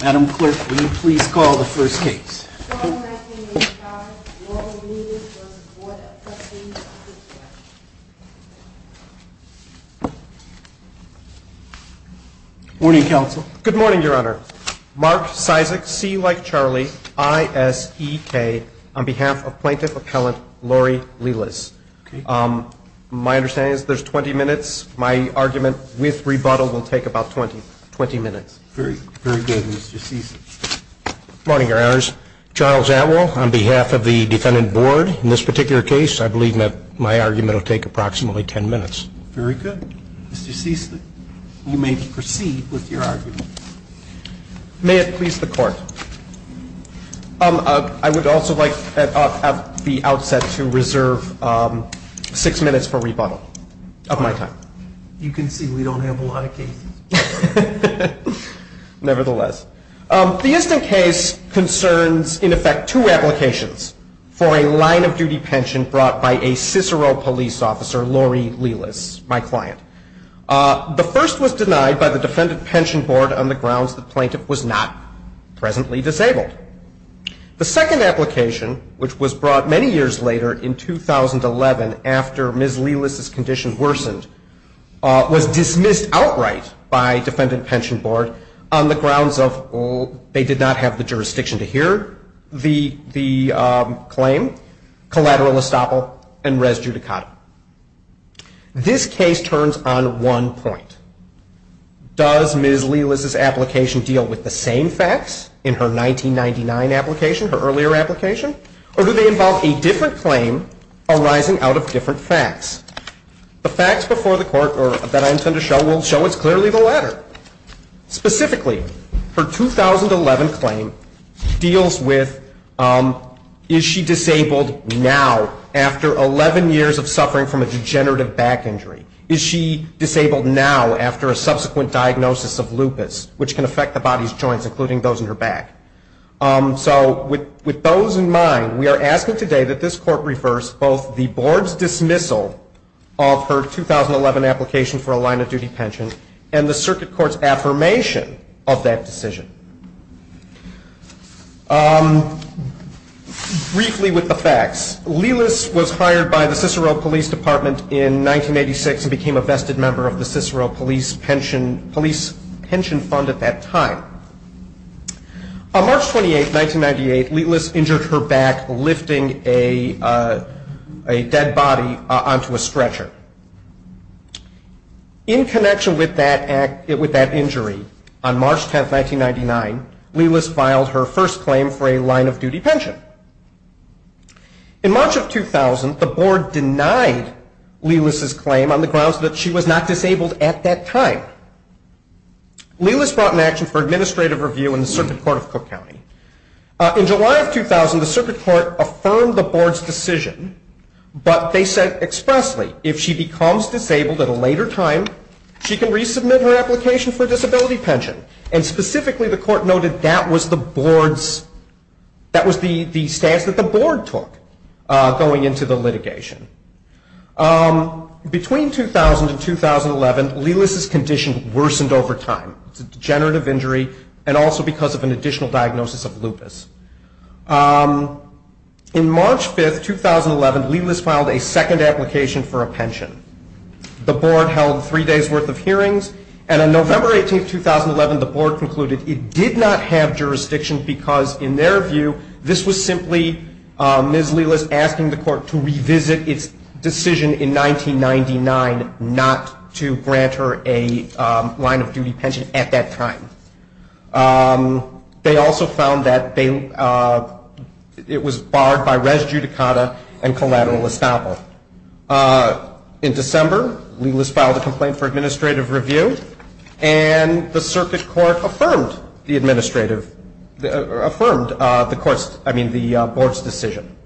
Madam Clerk, will you please call the first case? Good morning, Counsel. Good morning, Your Honor. Mark Sisek, C like Charlie, I-S-E-K, on behalf of Plaintiff Appellant Lori Lelis. My understanding is there's 20 minutes. My argument with rebuttal will take about 20 minutes. Very good, Mr. Sisek. Good morning, Your Honors. Charles Atwell, on behalf of the Defendant Board. In this particular case, I believe that my argument will take approximately 10 minutes. Very good. Mr. Sisek, you may proceed with your argument. May it please the Court. I would also like at the outset to reserve six minutes for rebuttal of my time. You can see we don't have a lot of cases. Nevertheless. The instant case concerns, in effect, two applications for a line-of-duty pension brought by a Cicero police officer, Lori Lelis, my client. The first was denied by the Defendant Pension Board on the grounds the plaintiff was not presently disabled. The second application, which was brought many years later in 2011 after Ms. Lelis' condition worsened, was dismissed outright by Defendant Pension Board on the grounds of they did not have the jurisdiction to hear the claim, collateral estoppel, and res judicata. This case turns on one point. Does Ms. Lelis' application deal with the same facts in her 1999 application, her earlier application, or do they involve a different claim arising out of different facts? The facts before the Court that I intend to show will show us clearly the latter. Specifically, her 2011 claim deals with is she disabled now after 11 years of suffering from a degenerative back injury? Is she disabled now after a subsequent diagnosis of lupus, which can affect the body's joints, including those in her back? So with those in mind, we are asking today that this Court reverse both the Board's dismissal of her 2011 application for a line-of-duty pension and the Circuit Court's affirmation of that decision. Briefly with the facts, Lelis was hired by the Cicero Police Department in 1986 and became a vested member of the Cicero Police Pension Fund at that time. On March 28, 1998, Lelis injured her back lifting a dead body onto a stretcher. In connection with that injury, on March 10, 1999, Lelis filed her first claim for a line-of-duty pension. In March of 2000, the Board denied Lelis' claim on the grounds that she was not disabled at that time. Lelis brought an action for administrative review in the Circuit Court of Cook County. In July of 2000, the Circuit Court affirmed the Board's decision, but they said expressly, if she becomes disabled at a later time, she can resubmit her application for a disability pension. And specifically, the Court noted that was the stance that the Board took going into the litigation. Between 2000 and 2011, Lelis' condition worsened over time. It's a degenerative injury and also because of an additional diagnosis of lupus. In March 5, 2011, Lelis filed a second application for a pension. The Board held three days' worth of hearings, and on November 18, 2011, the Board concluded it did not have jurisdiction because, in their view, this was simply Ms. Lelis asking the Court to revisit its decision in 1999 not to grant her a line-of-duty pension at that time. They also found that it was barred by res judicata and collateral estoppel. In December, Lelis filed a complaint for administrative review, and the Circuit Court affirmed the Board's decision.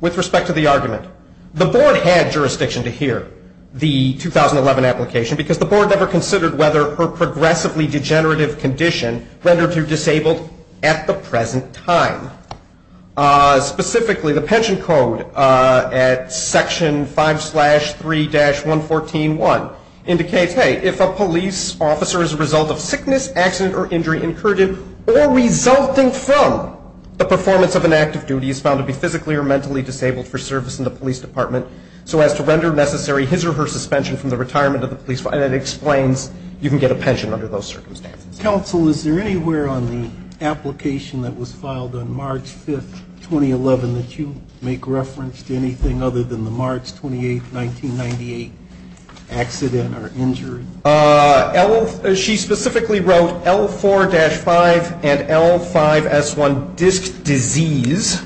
With respect to the argument, the Board had jurisdiction to hear the 2011 application because the Board never considered whether her progressively degenerative condition rendered her disabled at the present time. Specifically, the pension code at Section 5-3-114.1 indicates, hey, if a police officer is a result of sickness, accident, or injury incurred or resulting from the performance of an active duty, is found to be physically or mentally disabled for service in the police department, so as to render necessary his or her suspension from the retirement of the police officer. And it explains you can get a pension under those circumstances. Counsel, is there anywhere on the application that was filed on March 5, 2011, that you make reference to anything other than the March 28, 1998 accident or injury? She specifically wrote L-4-5 and L-5-S-1, disc disease,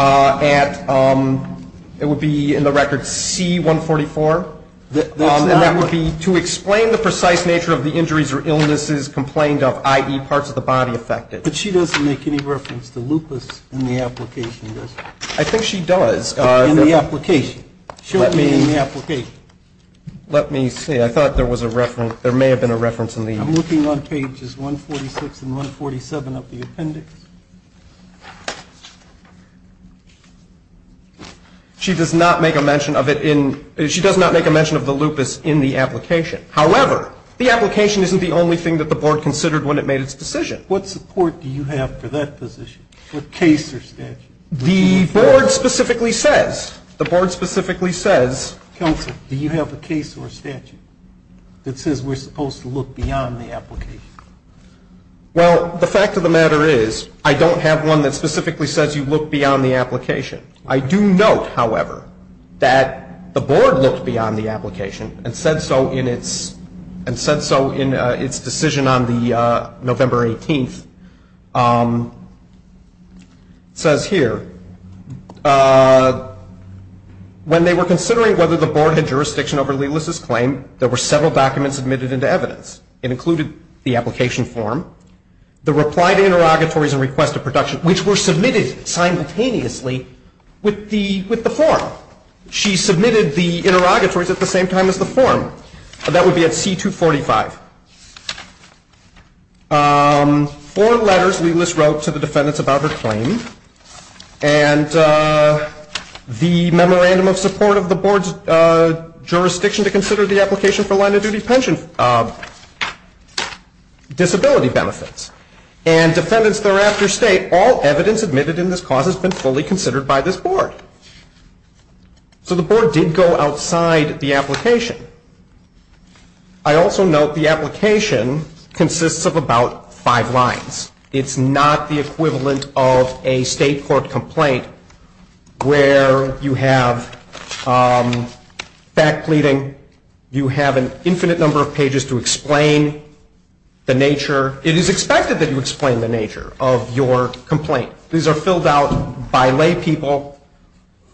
and it would be in the record C-144. And that would be to explain the precise nature of the injuries or illnesses complained of, i.e., parts of the body affected. But she doesn't make any reference to lupus in the application, does she? I think she does. In the application. Show it to me in the application. Let me see. I thought there was a reference. There may have been a reference in the application. I'm looking on pages 146 and 147 of the appendix. She does not make a mention of the lupus in the application. However, the application isn't the only thing that the board considered when it made its decision. What support do you have for that position? What case or statute? The board specifically says. The board specifically says. Counsel, do you have a case or statute that says we're supposed to look beyond the application? Well, the fact of the matter is I don't have one that specifically says you look beyond the application. I do note, however, that the board looked beyond the application and said so in its decision on November 18th. It says here, when they were considering whether the board had jurisdiction over Lelis's claim, there were several documents submitted into evidence. It included the application form, the reply to interrogatories and request of production, which were submitted simultaneously with the form. She submitted the interrogatories at the same time as the form. That would be at C245. Four letters Lelis wrote to the defendants about her claim and the memorandum of support of the board's jurisdiction to consider the application for line-of-duty pension disability benefits. And defendants thereafter state all evidence admitted in this cause has been fully considered by this board. So the board did go outside the application. I also note the application consists of about five lines. It's not the equivalent of a state court complaint where you have fact pleading, you have an infinite number of pages to explain the nature. It is expected that you explain the nature of your complaint. These are filled out by laypeople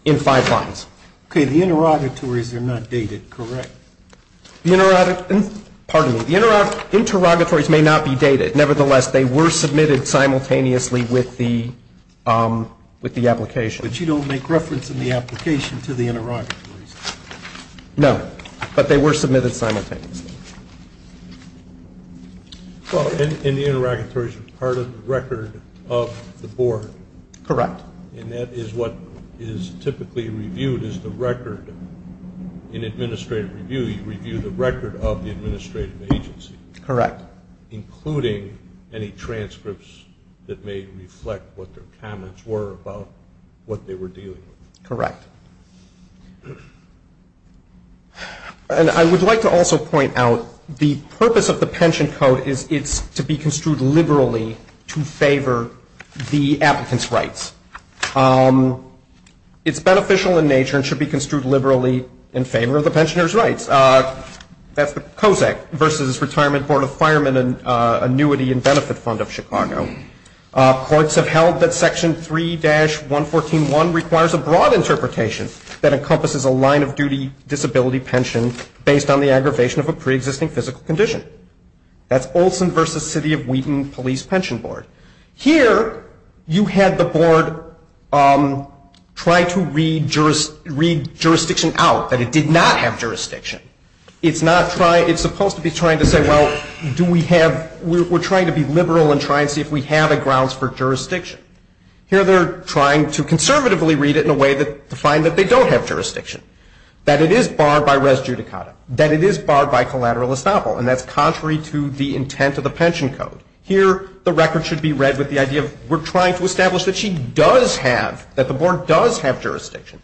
in five lines. Okay, the interrogatories are not dated, correct? The interrogatories may not be dated. Nevertheless, they were submitted simultaneously with the application. But you don't make reference in the application to the interrogatories? No, but they were submitted simultaneously. And the interrogatories are part of the record of the board? Correct. And that is what is typically reviewed as the record. In administrative review, you review the record of the administrative agency. Correct. Including any transcripts that may reflect what their comments were about what they were dealing with. Correct. And I would like to also point out the purpose of the pension code is it's to be construed liberally to favor the applicant's rights. It's beneficial in nature and should be construed liberally in favor of the pensioner's rights. That's the COSAC versus Retirement Board of Firemen and Annuity and Benefit Fund of Chicago. Courts have held that Section 3-114.1 requires a broad interpretation that encompasses a line of duty disability pension based on the aggravation of a preexisting physical condition. That's Olson versus City of Wheaton Police Pension Board. Here, you had the board try to read jurisdiction out, that it did not have jurisdiction. It's not trying, it's supposed to be trying to say, well, do we have, we're trying to be liberal and try and see if we have a grounds for jurisdiction. Here, they're trying to conservatively read it in a way to find that they don't have jurisdiction. That it is barred by res judicata. That it is barred by collateral estoppel. And that's contrary to the intent of the pension code. Here, the record should be read with the idea of we're trying to establish that she does have, that the board does have jurisdiction.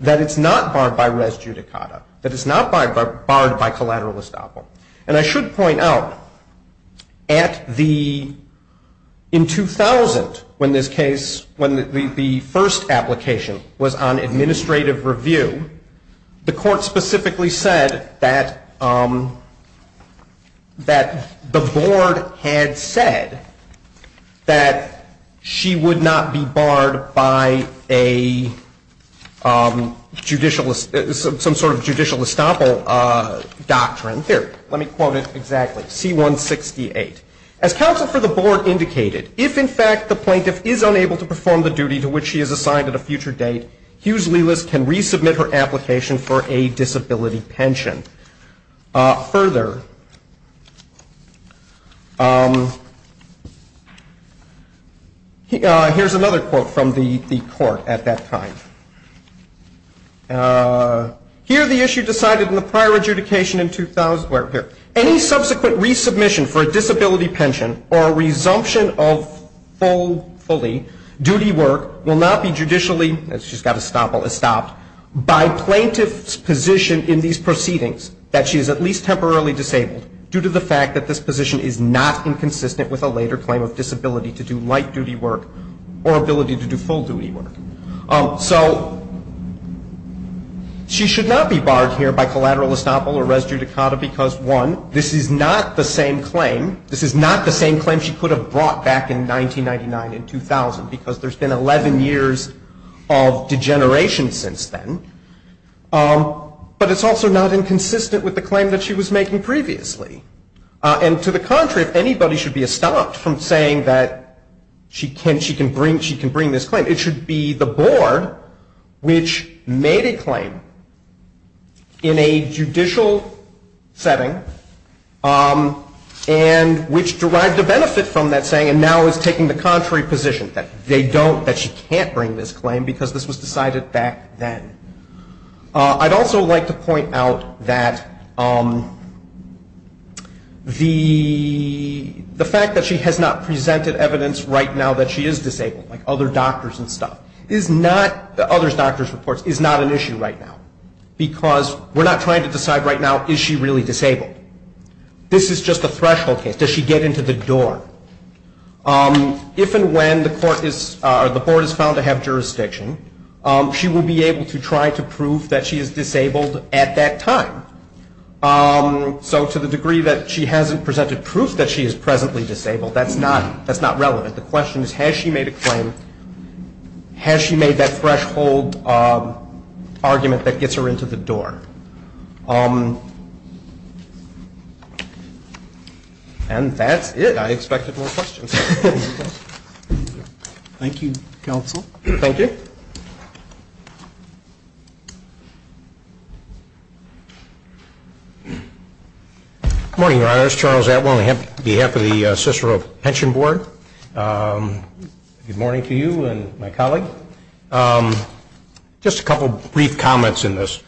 That it's not barred by res judicata. That it's not barred by collateral estoppel. And I should point out, at the, in 2000, when this case, when the first application was on administrative review, the court specifically said that, that the board had said that she would not be barred by a judicial, some sort of judicial estoppel doctrine. Here, let me quote it exactly. C-168. As counsel for the board indicated, if in fact the plaintiff is unable to perform the duty to which she is assigned at a future date, Hughes-Lewis can resubmit her application for a disability pension. Further, here's another quote from the court at that time. Here, the issue decided in the prior adjudication in 2000, here. Any subsequent resubmission for a disability pension or resumption of full, fully duty work will not be judicially, she's got estoppel, estopped by plaintiff's position in these proceedings that she is at least temporarily disabled due to the fact that this position is not inconsistent with a later claim of disability to do light duty work or ability to do full duty work. So she should not be barred here by collateral estoppel or res judicata because, one, this is not the same claim, this is not the same claim she could have brought back in 1999 and 2000, because there's been 11 years of degeneration since then. But it's also not inconsistent with the claim that she was making previously. And to the contrary, if anybody should be estopped from saying that she can bring this claim, it should be the board which made a claim in a judicial setting and which derived a benefit from that saying and now is taking the contrary position that they don't, that she can't bring this claim because this was decided back then. I'd also like to point out that the fact that she has not presented evidence right now that she is disabled, like other doctors and stuff, is not, the other doctors' reports, is not an issue right now. Because we're not trying to decide right now, is she really disabled? This is just a threshold case. Does she get into the door? If and when the court is, or the board is found to have jurisdiction, she will be able to try to prove that she is disabled at that time. So to the degree that she hasn't presented proof that she is presently disabled, that's not relevant. The question is, has she made a claim? Has she made that threshold argument that gets her into the door? And that's it. I expected more questions. Thank you, counsel. Thank you. Good morning, Your Honors. Charles Atwill on behalf of the Cicero Pension Board. Good morning to you and my colleague. Just a couple brief comments in this.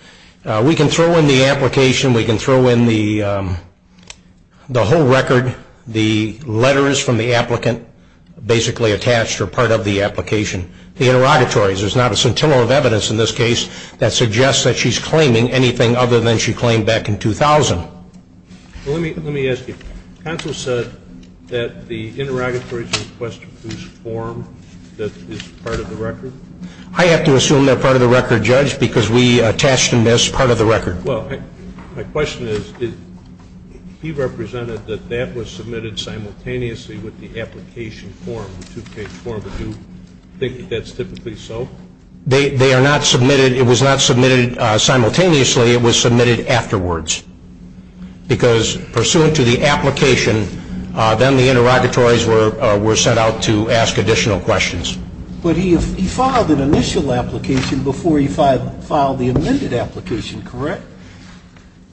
We can throw in the application. We can throw in the whole record, the letters from the applicant, basically attached or part of the application. The interrogatories, there's not a scintilla of evidence in this case that suggests that she's claiming anything other than she claimed back in 2000. Well, let me ask you. Counsel said that the interrogatories were a question of whose form that is part of the record? I have to assume they're part of the record, Judge, because we attached and missed part of the record. Well, my question is, he represented that that was submitted simultaneously with the application form, the two-page form. Do you think that's typically so? They are not submitted. It was not submitted simultaneously. It was submitted afterwards, because pursuant to the application, then the interrogatories were sent out to ask additional questions. But he filed an initial application before he filed the amended application, correct?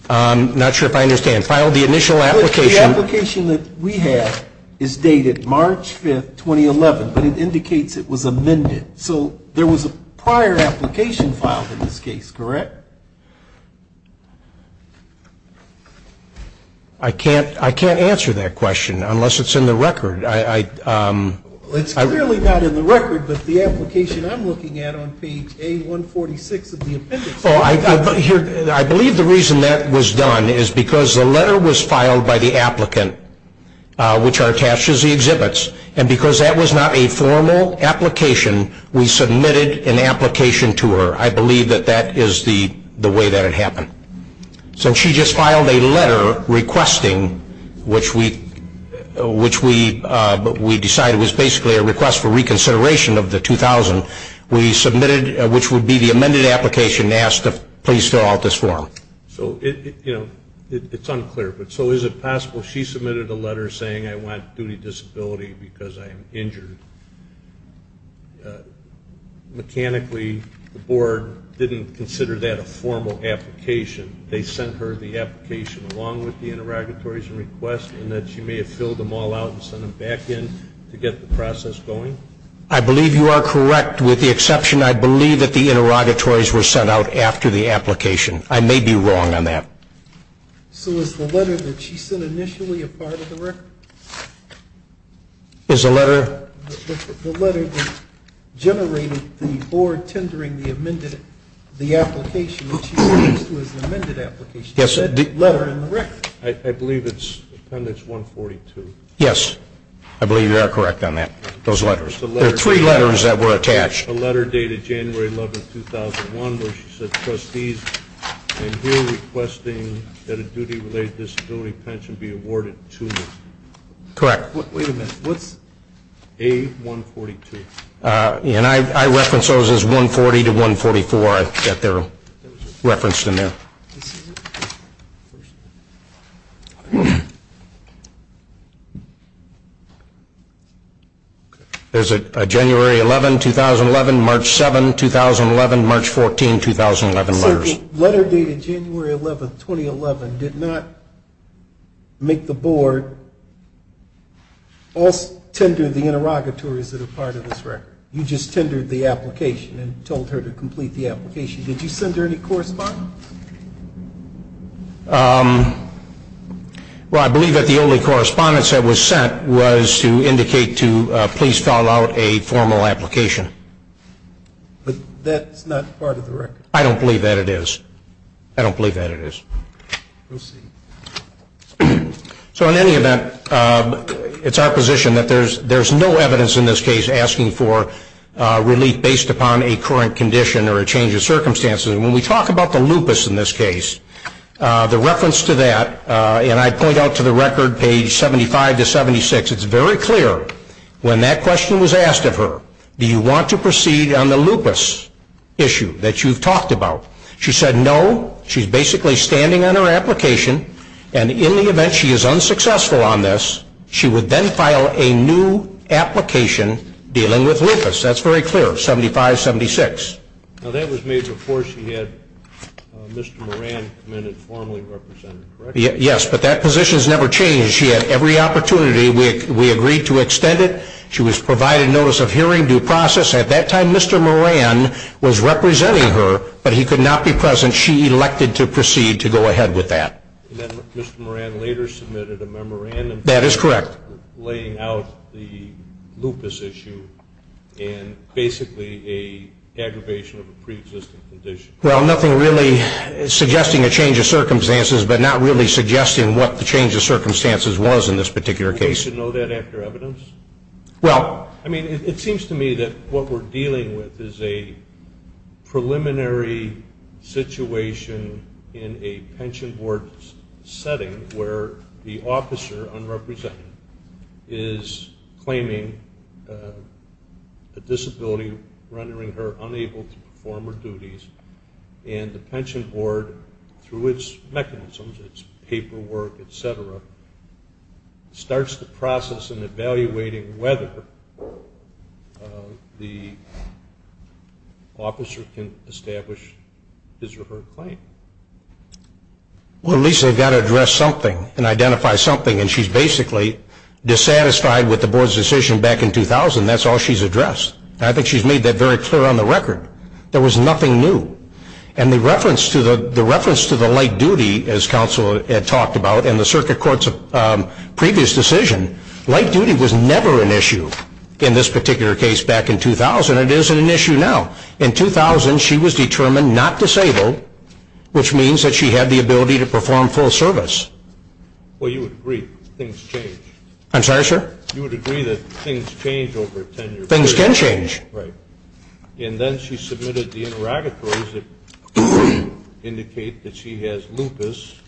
I'm not sure if I understand. Filed the initial application. The application that we have is dated March 5, 2011, but it indicates it was amended. So there was a prior application filed in this case, correct? I can't answer that question unless it's in the record. It's clearly not in the record, but the application I'm looking at on page A146 of the appendix. I believe the reason that was done is because the letter was filed by the applicant, which are attached as the exhibits, and because that was not a formal application, we submitted an application to her. I believe that that is the way that it happened. So she just filed a letter requesting, which we decided was basically a request for reconsideration of the 2000. We submitted, which would be the amended application, asked to please fill out this form. So, you know, it's unclear, but so is it possible she submitted a letter saying, I want duty disability because I am injured? Mechanically, the board didn't consider that a formal application. They sent her the application along with the interrogatories and request, and that she may have filled them all out and sent them back in to get the process going? I believe you are correct. With the exception, I believe that the interrogatories were sent out after the application. I may be wrong on that. So is the letter that she sent initially a part of the record? Is the letter? The letter that generated the board tendering the amended application, which she refers to as an amended application, is that letter in the record? I believe it's appendix 142. Yes, I believe you are correct on that, those letters. There are three letters that were attached. The letter dated January 11, 2001, where she said, Trustees, I am here requesting that a duty-related disability pension be awarded to me. Correct. Wait a minute. What's A142? I reference those as 140 to 144. I bet they're referenced in there. There's a January 11, 2011, March 7, 2011, March 14, 2011 letters. The letter dated January 11, 2011, did not make the board tender the interrogatories that are part of this record. You just tendered the application and told her to complete the application. Did you send her any correspondence? Well, I believe that the only correspondence that was sent was to indicate to please file out a formal application. But that's not part of the record. I don't believe that it is. I don't believe that it is. So in any event, it's our position that there's no evidence in this case asking for relief based upon a current condition or a change of circumstances. And when we talk about the lupus in this case, the reference to that, and I point out to the record, page 75 to 76, it's very clear when that question was asked of her, do you want to proceed on the lupus issue that you've talked about? She said no. She's basically standing on her application. And in the event she is unsuccessful on this, she would then file a new application dealing with lupus. That's very clear, 75, 76. Now, that was made before she had Mr. Moran come in and formally represent her, correct? Yes, but that position's never changed. She had every opportunity. We agreed to extend it. She was provided notice of hearing due process. At that time, Mr. Moran was representing her, but he could not be present. She elected to proceed to go ahead with that. And then Mr. Moran later submitted a memorandum. That is correct. Laying out the lupus issue and basically an aggravation of a preexisting condition. Well, nothing really suggesting a change of circumstances, but not really suggesting what the change of circumstances was in this particular case. Do we need to know that after evidence? Well, I mean, it seems to me that what we're dealing with is a preliminary situation in a pension board setting where the officer, unrepresented, is claiming a disability, rendering her unable to perform her duties, and the pension board, through its mechanisms, its paperwork, et cetera, starts the process in evaluating whether the officer can establish his or her claim. Well, at least they've got to address something and identify something. And she's basically dissatisfied with the board's decision back in 2000. That's all she's addressed. I think she's made that very clear on the record. There was nothing new. And the reference to the light duty, as counsel had talked about, and the circuit court's previous decision, light duty was never an issue in this particular case back in 2000. It is an issue now. In 2000, she was determined not disabled, which means that she had the ability to perform full service. Well, you would agree things change. I'm sorry, sir? You would agree that things change over tenure. Things can change. Right. And then she submitted the interrogatories that indicate that she has lupus,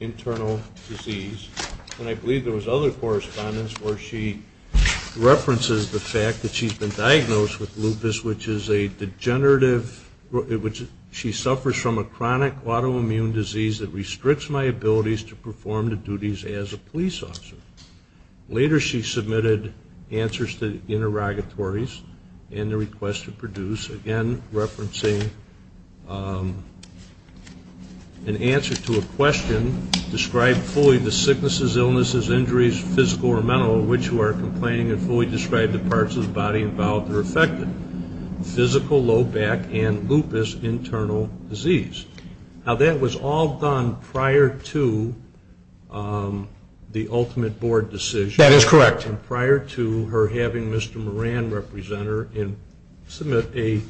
internal disease, and I believe there was other correspondence where she references the fact that she's been diagnosed with lupus, which is a degenerative, she suffers from a chronic autoimmune disease that restricts my abilities to perform the duties as a police officer. Later she submitted answers to the interrogatories and the request to produce, again, referencing an answer to a question, describe fully the sicknesses, illnesses, injuries, physical or mental, of which you are complaining, and fully describe the parts of the body involved or affected, physical, low back, and lupus, internal disease. Now, that was all done prior to the ultimate board decision. That is correct. And prior to her having Mr. Moran represent her and submit a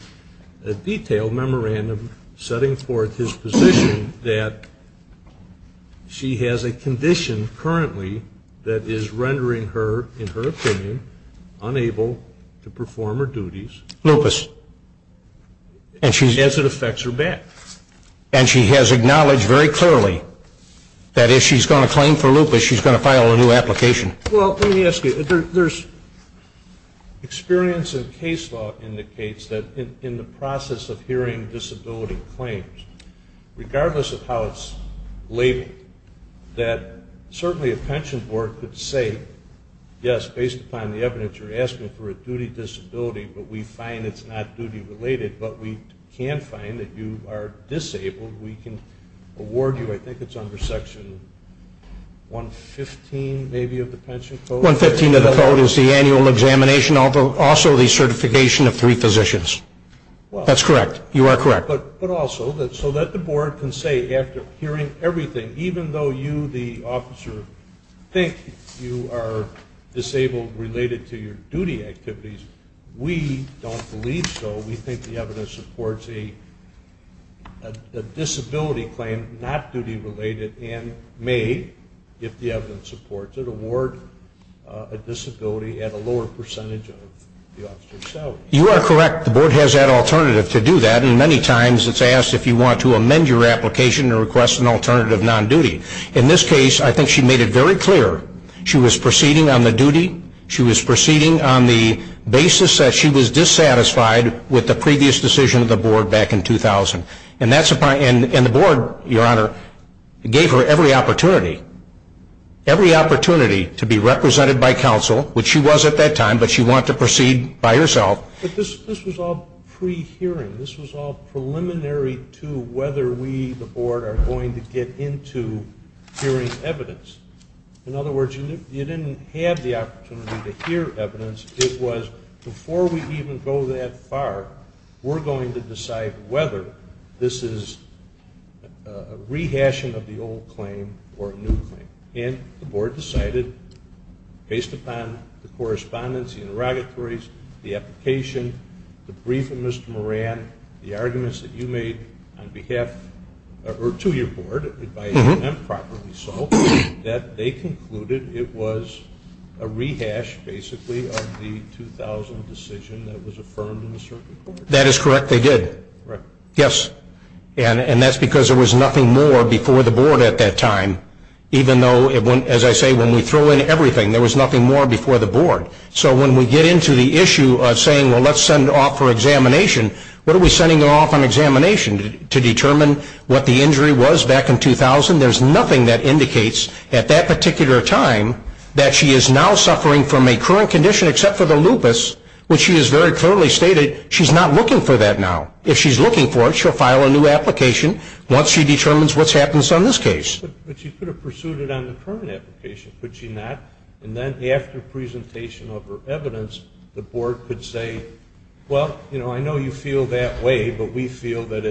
detailed memorandum setting forth his position that she has a condition currently that is rendering her, in her opinion, unable to perform her duties. Lupus. As it affects her back. And she has acknowledged very clearly that if she's going to claim for lupus, she's going to file a new application. Well, let me ask you, there's experience in case law indicates that in the process of hearing disability claims, regardless of how it's labeled, that certainly a pension board could say, yes, based upon the evidence you're asking for a duty disability, but we find it's not duty related, but we can find that you are disabled. We can award you, I think it's under section 115 maybe of the pension code. 115 of the code is the annual examination, also the certification of three physicians. That's correct. You are correct. But also, so that the board can say after hearing everything, even though you, the officer, think you are disabled related to your duty activities, we don't believe so. We think the evidence supports a disability claim, not duty related, and may, if the evidence supports it, award a disability at a lower percentage of the officer's salary. You are correct. The board has that alternative to do that, and many times it's asked if you want to amend your application and request an alternative non-duty. In this case, I think she made it very clear she was proceeding on the duty, she was proceeding on the basis that she was dissatisfied with the previous decision of the board back in 2000. And the board, Your Honor, gave her every opportunity, every opportunity to be represented by counsel, which she was at that time, but she wanted to proceed by herself. But this was all pre-hearing. This was all preliminary to whether we, the board, are going to get into hearing evidence. In other words, you didn't have the opportunity to hear evidence. It was before we even go that far, we're going to decide whether this is a rehashing of the old claim or a new claim. And the board decided, based upon the correspondence, the interrogatories, the application, the brief of Mr. Moran, the arguments that you made on behalf or to your board, if I remember properly so, that they concluded it was a rehash, basically, of the 2000 decision that was affirmed in the circuit court. That is correct. They did. Yes. And that's because there was nothing more before the board at that time, even though, as I say, when we throw in everything, there was nothing more before the board. So when we get into the issue of saying, well, let's send her off for examination, what are we sending her off on examination to determine what the injury was back in 2000? There's nothing that indicates at that particular time that she is now suffering from a current condition except for the lupus, which she has very clearly stated she's not looking for that now. If she's looking for it, she'll file a new application once she determines what happens on this case. But she could have pursued it on the current application, could she not? And then after presentation of her evidence, the board could say, well, you know, I know you feel that way, but we feel that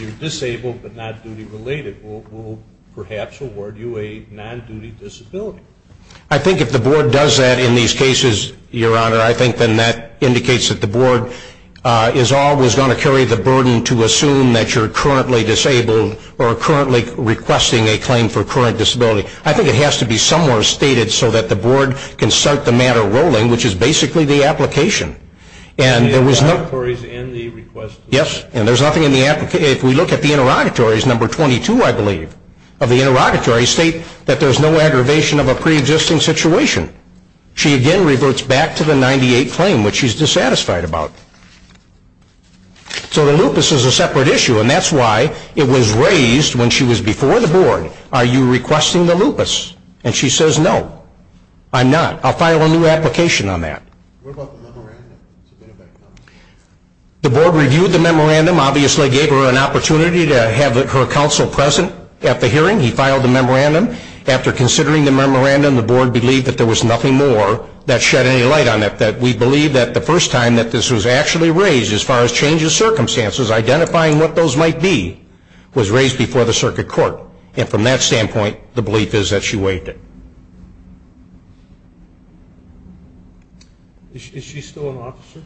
you're disabled but not duty-related. We'll perhaps award you a non-duty disability. I think if the board does that in these cases, Your Honor, I think then that indicates that the board is always going to carry the burden to assume that you're currently disabled or currently requesting a claim for current disability. I think it has to be somewhere stated so that the board can start the matter rolling, which is basically the application. And there was no... Interrogatories in the request. Yes, and there's nothing in the application. If we look at the interrogatories, number 22, I believe, of the interrogatory, state that there's no aggravation of a preexisting situation. She again reverts back to the 98 claim, which she's dissatisfied about. So the lupus is a separate issue, and that's why it was raised when she was before the board. Are you requesting the lupus? And she says, no, I'm not. I'll file a new application on that. What about the memorandum? The board reviewed the memorandum, obviously gave her an opportunity to have her counsel present at the hearing. He filed the memorandum. After considering the memorandum, the board believed that there was nothing more that shed any light on it, that we believe that the first time that this was actually raised as far as changes to circumstances, identifying what those might be, was raised before the circuit court. And from that standpoint, the belief is that she waived it. Is she still an officer?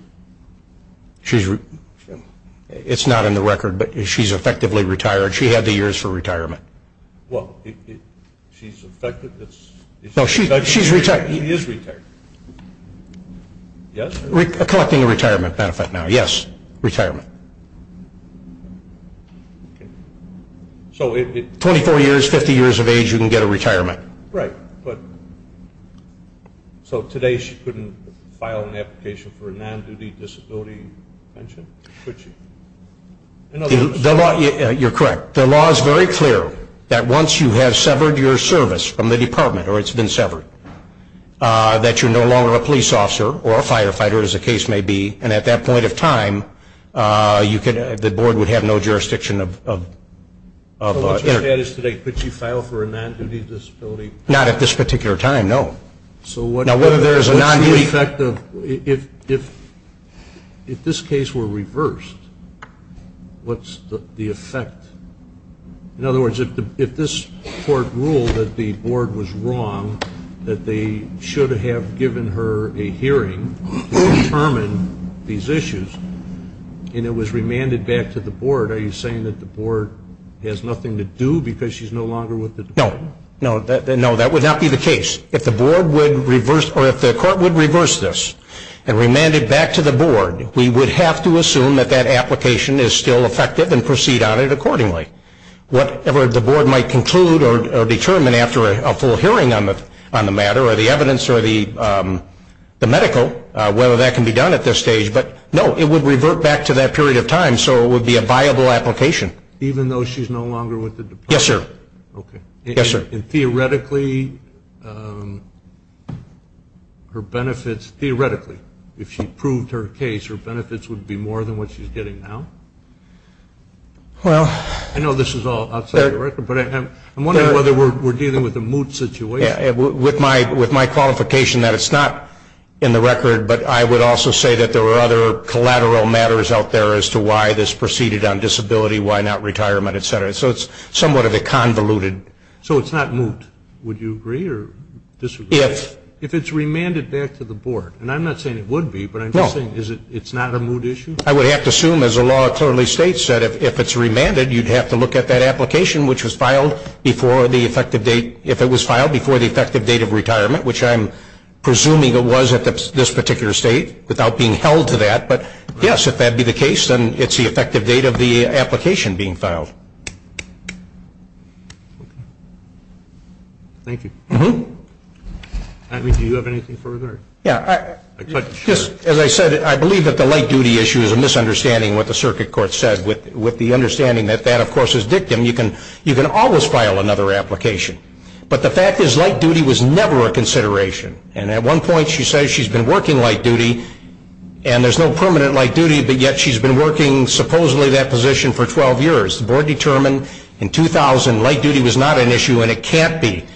It's not in the record, but she's effectively retired. She had the years for retirement. Well, she's effectively retired. She is retired. Yes? Collecting a retirement benefit now, yes, retirement. So 24 years, 50 years of age, you can get a retirement. Right. So today she couldn't file an application for a non-duty disability pension, could she? You're correct. The law is very clear that once you have severed your service from the department, or it's been severed, that you're no longer a police officer or a firefighter, as the case may be. And at that point of time, the board would have no jurisdiction of her. So what you're saying is today, could she file for a non-duty disability pension? Not at this particular time, no. So what's the effect if this case were reversed? What's the effect? In other words, if this court ruled that the board was wrong, that they should have given her a hearing to determine these issues, and it was remanded back to the board, are you saying that the board has nothing to do because she's no longer with the department? No. No, that would not be the case. If the court would reverse this and remand it back to the board, we would have to assume that that application is still effective and proceed on it accordingly. Whatever the board might conclude or determine after a full hearing on the matter or the evidence or the medical, whether that can be done at this stage. But, no, it would revert back to that period of time, so it would be a viable application. Even though she's no longer with the department? Yes, sir. Okay. Yes, sir. And, theoretically, her benefits, theoretically, if she proved her case, her benefits would be more than what she's getting now? Well. I know this is all outside the record, but I'm wondering whether we're dealing with a moot situation. With my qualification that it's not in the record, but I would also say that there are other collateral matters out there as to why this proceeded on disability, why not retirement, et cetera. So it's somewhat of a convoluted. So it's not moot. Would you agree or disagree? Yes. If it's remanded back to the board, and I'm not saying it would be, but I'm just saying it's not a moot issue? I would have to assume, as the law clearly states, that if it's remanded, you'd have to look at that application, which was filed before the effective date, if it was filed before the effective date of retirement, which I'm presuming it was at this particular state without being held to that. But, yes, if that be the case, then it's the effective date of the application being filed. Thank you. Do you have anything further? Yeah. As I said, I believe that the light duty issue is a misunderstanding of what the circuit court said, with the understanding that that, of course, is dictum. You can always file another application. But the fact is light duty was never a consideration. And at one point she says she's been working light duty, and there's no permanent light duty, but yet she's been working supposedly that position for 12 years. The board determined in 2000 light duty was not an issue, and it can't be.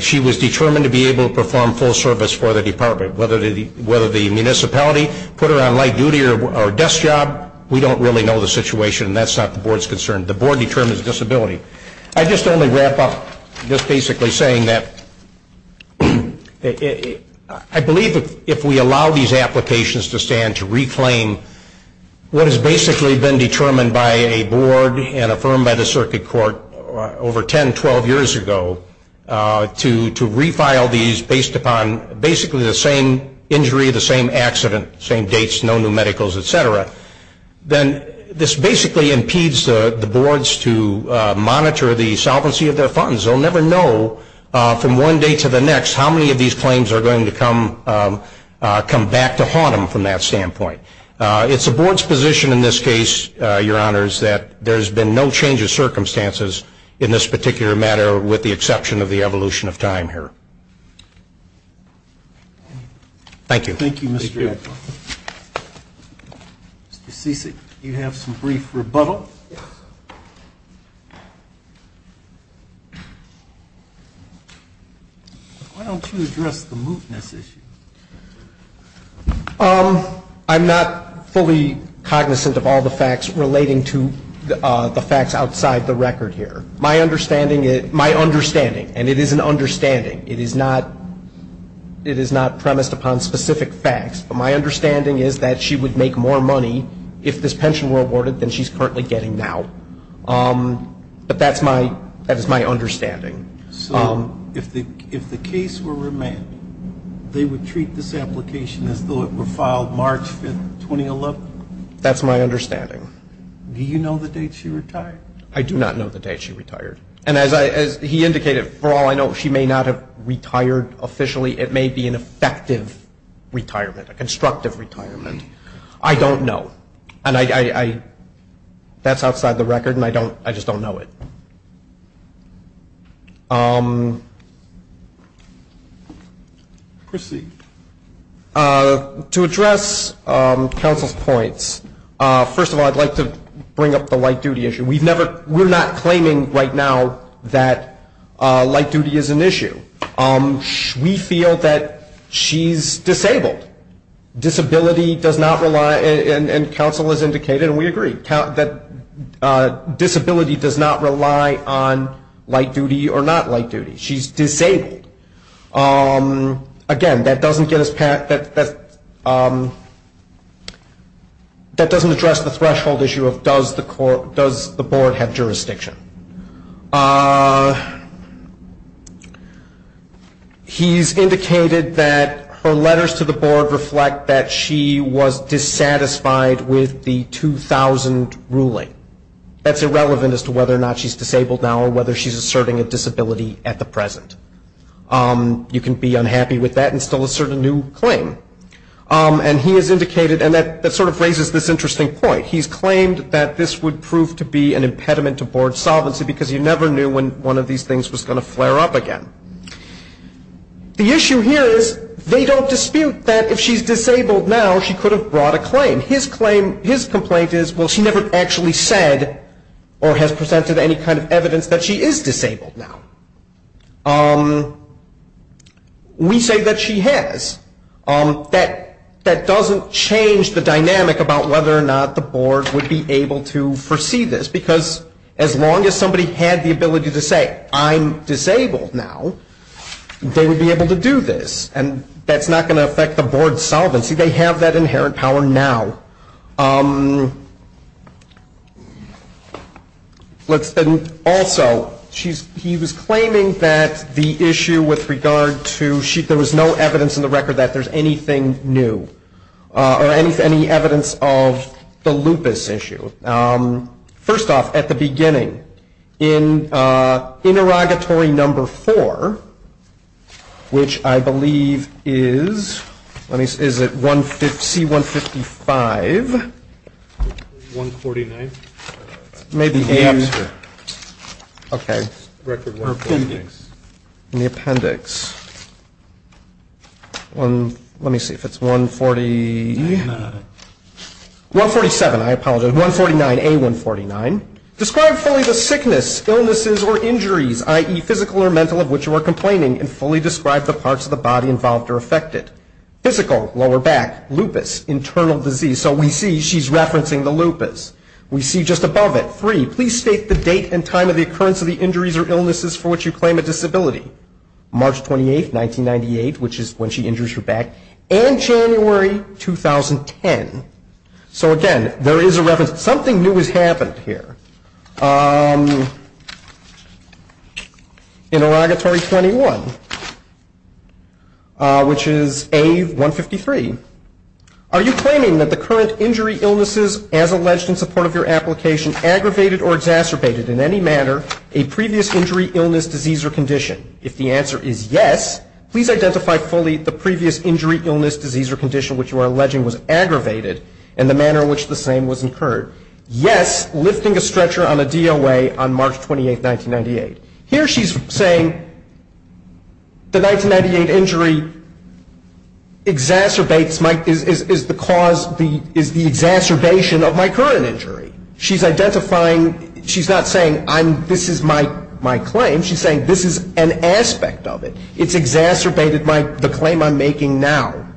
She was determined to be able to perform full service for the department. Whether the municipality put her on light duty or desk job, we don't really know the situation, and that's not the board's concern. The board determines disability. I just want to wrap up just basically saying that I believe if we allow these applications to stand to reclaim what has basically been determined by a board and affirmed by the circuit court over 10, 12 years ago to refile these based upon basically the same injury, the same accident, same dates, no new medicals, et cetera, then this basically impedes the boards to monitor the solvency of their funds. They'll never know from one day to the next how many of these claims are going to come back to haunt them from that standpoint. It's the board's position in this case, Your Honors, that there's been no change of circumstances in this particular matter with the exception of the evolution of time here. Thank you. Thank you, Mr. Ecklund. Mr. Cicic, do you have some brief rebuttal? Yes. Why don't you address the mootness issue? I'm not fully cognizant of all the facts relating to the facts outside the record here. My understanding, my understanding, and it is an understanding, it is not premised upon specific facts, but my understanding is that she would make more money if this pension were awarded than she's currently getting now. But that is my understanding. So if the case were remanded, they would treat this application as though it were filed March 5, 2011? That's my understanding. Do you know the date she retired? I do not know the date she retired. And as he indicated, for all I know, she may not have retired officially. It may be an effective retirement, a constructive retirement. I don't know. And that's outside the record, and I just don't know it. To address counsel's points, first of all, I'd like to bring up the light duty issue. We're not claiming right now that light duty is an issue. We feel that she's disabled. Disability does not rely, and counsel has indicated, and we agree, that disability does not rely on light duty or not light duty. She's disabled. Again, that doesn't address the threshold issue of does the board have jurisdiction. He's indicated that her letters to the board reflect that she was dissatisfied with the 2000 ruling. That's irrelevant as to whether or not she's disabled now or whether she's asserting a disability at the present. You can be unhappy with that and still assert a new claim. And he has indicated, and that sort of raises this interesting point, he's claimed that this would prove to be an impediment to board solvency because he never knew when one of these things was going to flare up again. The issue here is they don't dispute that if she's disabled now, she could have brought a claim. His claim, his complaint is, well, she never actually said or has presented any kind of evidence that she is disabled now. We say that she has. That doesn't change the dynamic about whether or not the board would be able to foresee this because as long as somebody had the ability to say, I'm disabled now, they would be able to do this. And that's not going to affect the board's solvency. They have that inherent power now. Also, he was claiming that the issue with regard to, there was no evidence in the record that there's anything new or any evidence of the lupus issue. First off, at the beginning, in interrogatory number 4, which I believe is, let me see, is it C-155? 149. Okay. In the appendix. Let me see if it's 147. I apologize. 149A-149. Describe fully the sickness, illnesses, or injuries, i.e., physical or mental, of which you are complaining and fully describe the parts of the body involved or affected. Physical, lower back, lupus, internal disease. So we see she's referencing the lupus. We see just above it, 3, please state the date and time of the occurrence of the injuries or illnesses for which you claim a disability. March 28, 1998, which is when she injures her back, and January 2010. So, again, there is a reference. Something new has happened here. Interrogatory 21, which is A-153. Are you claiming that the current injury, illnesses, as alleged in support of your application, aggravated or exacerbated in any manner a previous injury, illness, disease, or condition? If the answer is yes, please identify fully the previous injury, illness, disease, or condition which you are alleging was aggravated in the manner in which the same was incurred. Yes, lifting a stretcher on a DOA on March 28, 1998. Here she's saying the 1998 injury exacerbates my, is the cause, is the exacerbation of my current injury. She's identifying, she's not saying this is my claim. She's saying this is an aspect of it. It's exacerbated by the claim I'm making now.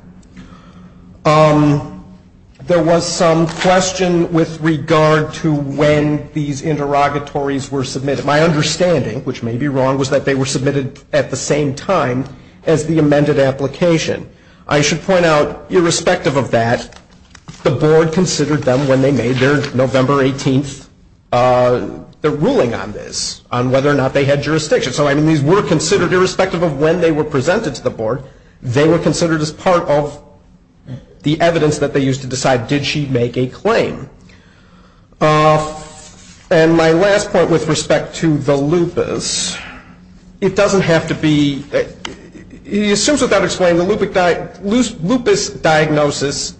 There was some question with regard to when these interrogatories were submitted. My understanding, which may be wrong, was that they were submitted at the same time as the amended application. I should point out, irrespective of that, the board considered them when they made their November 18th, their ruling on this, on whether or not they had jurisdiction. So, I mean, these were considered, irrespective of when they were presented to the board, they were considered as part of the evidence that they used to decide, did she make a claim? And my last point with respect to the lupus, it doesn't have to be, it assumes without explaining the lupus diagnosis,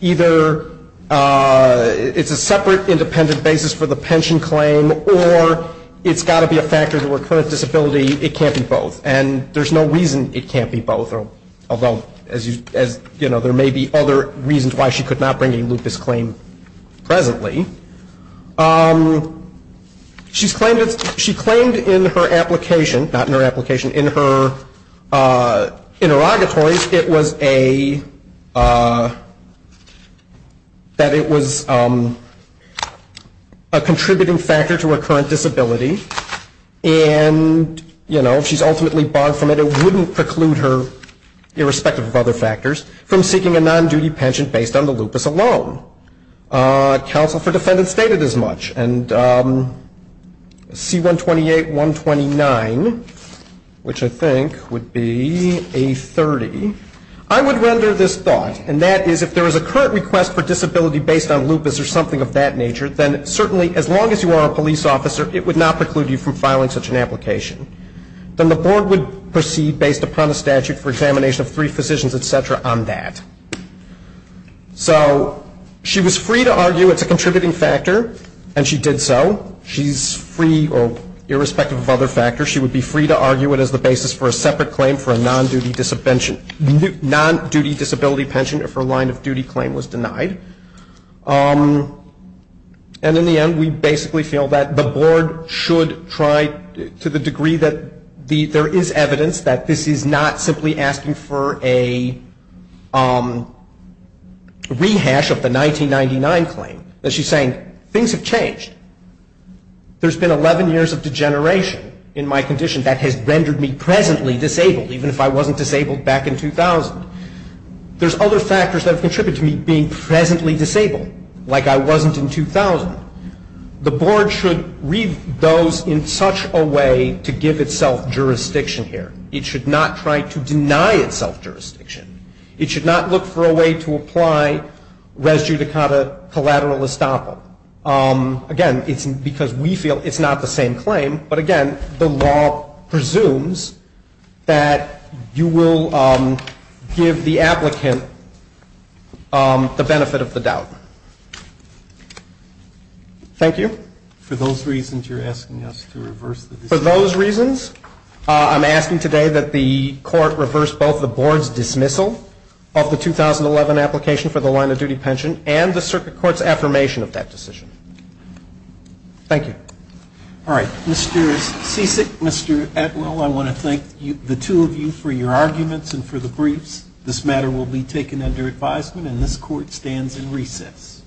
either it's a separate, independent basis for the pension claim, or it's got to be a factor to her current disability. It can't be both, and there's no reason it can't be both, although there may be other reasons why she could not bring a lupus claim presently. She claimed in her application, not in her application, in her interrogatories, that it was a contributing factor to her current disability, and she's ultimately barred from it, it wouldn't preclude her, irrespective of other factors, from seeking a non-duty pension based on the lupus alone. Counsel for defendants stated as much, and C-128-129, which I think would be A-30, I would render this thought, and that is, if there is a current request for disability based on lupus or something of that nature, then certainly, as long as you are a police officer, it would not preclude you from filing such an application. Then the board would proceed, based upon a statute for examination of three physicians, et cetera, on that. So she was free to argue it's a contributing factor, and she did so. She's free, irrespective of other factors, she would be free to argue it as the basis for a separate claim for a non-duty disability pension if her line of duty claim was denied. And in the end, we basically feel that the board should try, to the degree that there is evidence that this is not simply asking for a rehash of the 1999 claim, that she's saying things have changed. There's been 11 years of degeneration in my condition that has rendered me presently disabled, even if I wasn't disabled back in 2000. There's other factors that have contributed to me being presently disabled, like I wasn't in 2000. The board should read those in such a way to give itself jurisdiction here. It should not try to deny itself jurisdiction. It should not look for a way to apply res judicata collateral estoppel. Again, it's because we feel it's not the same claim, but again, the law presumes that you will give the applicant the benefit of the doubt. Thank you. For those reasons, you're asking us to reverse the decision? For those reasons, I'm asking today that the court reverse both the board's dismissal of the 2011 application for the line of duty pension and the circuit court's affirmation of that decision. Thank you. All right. Mr. Cicic, Mr. Atwell, I want to thank the two of you for your arguments and for the briefs. This matter will be taken under advisement, and this court stands in recess.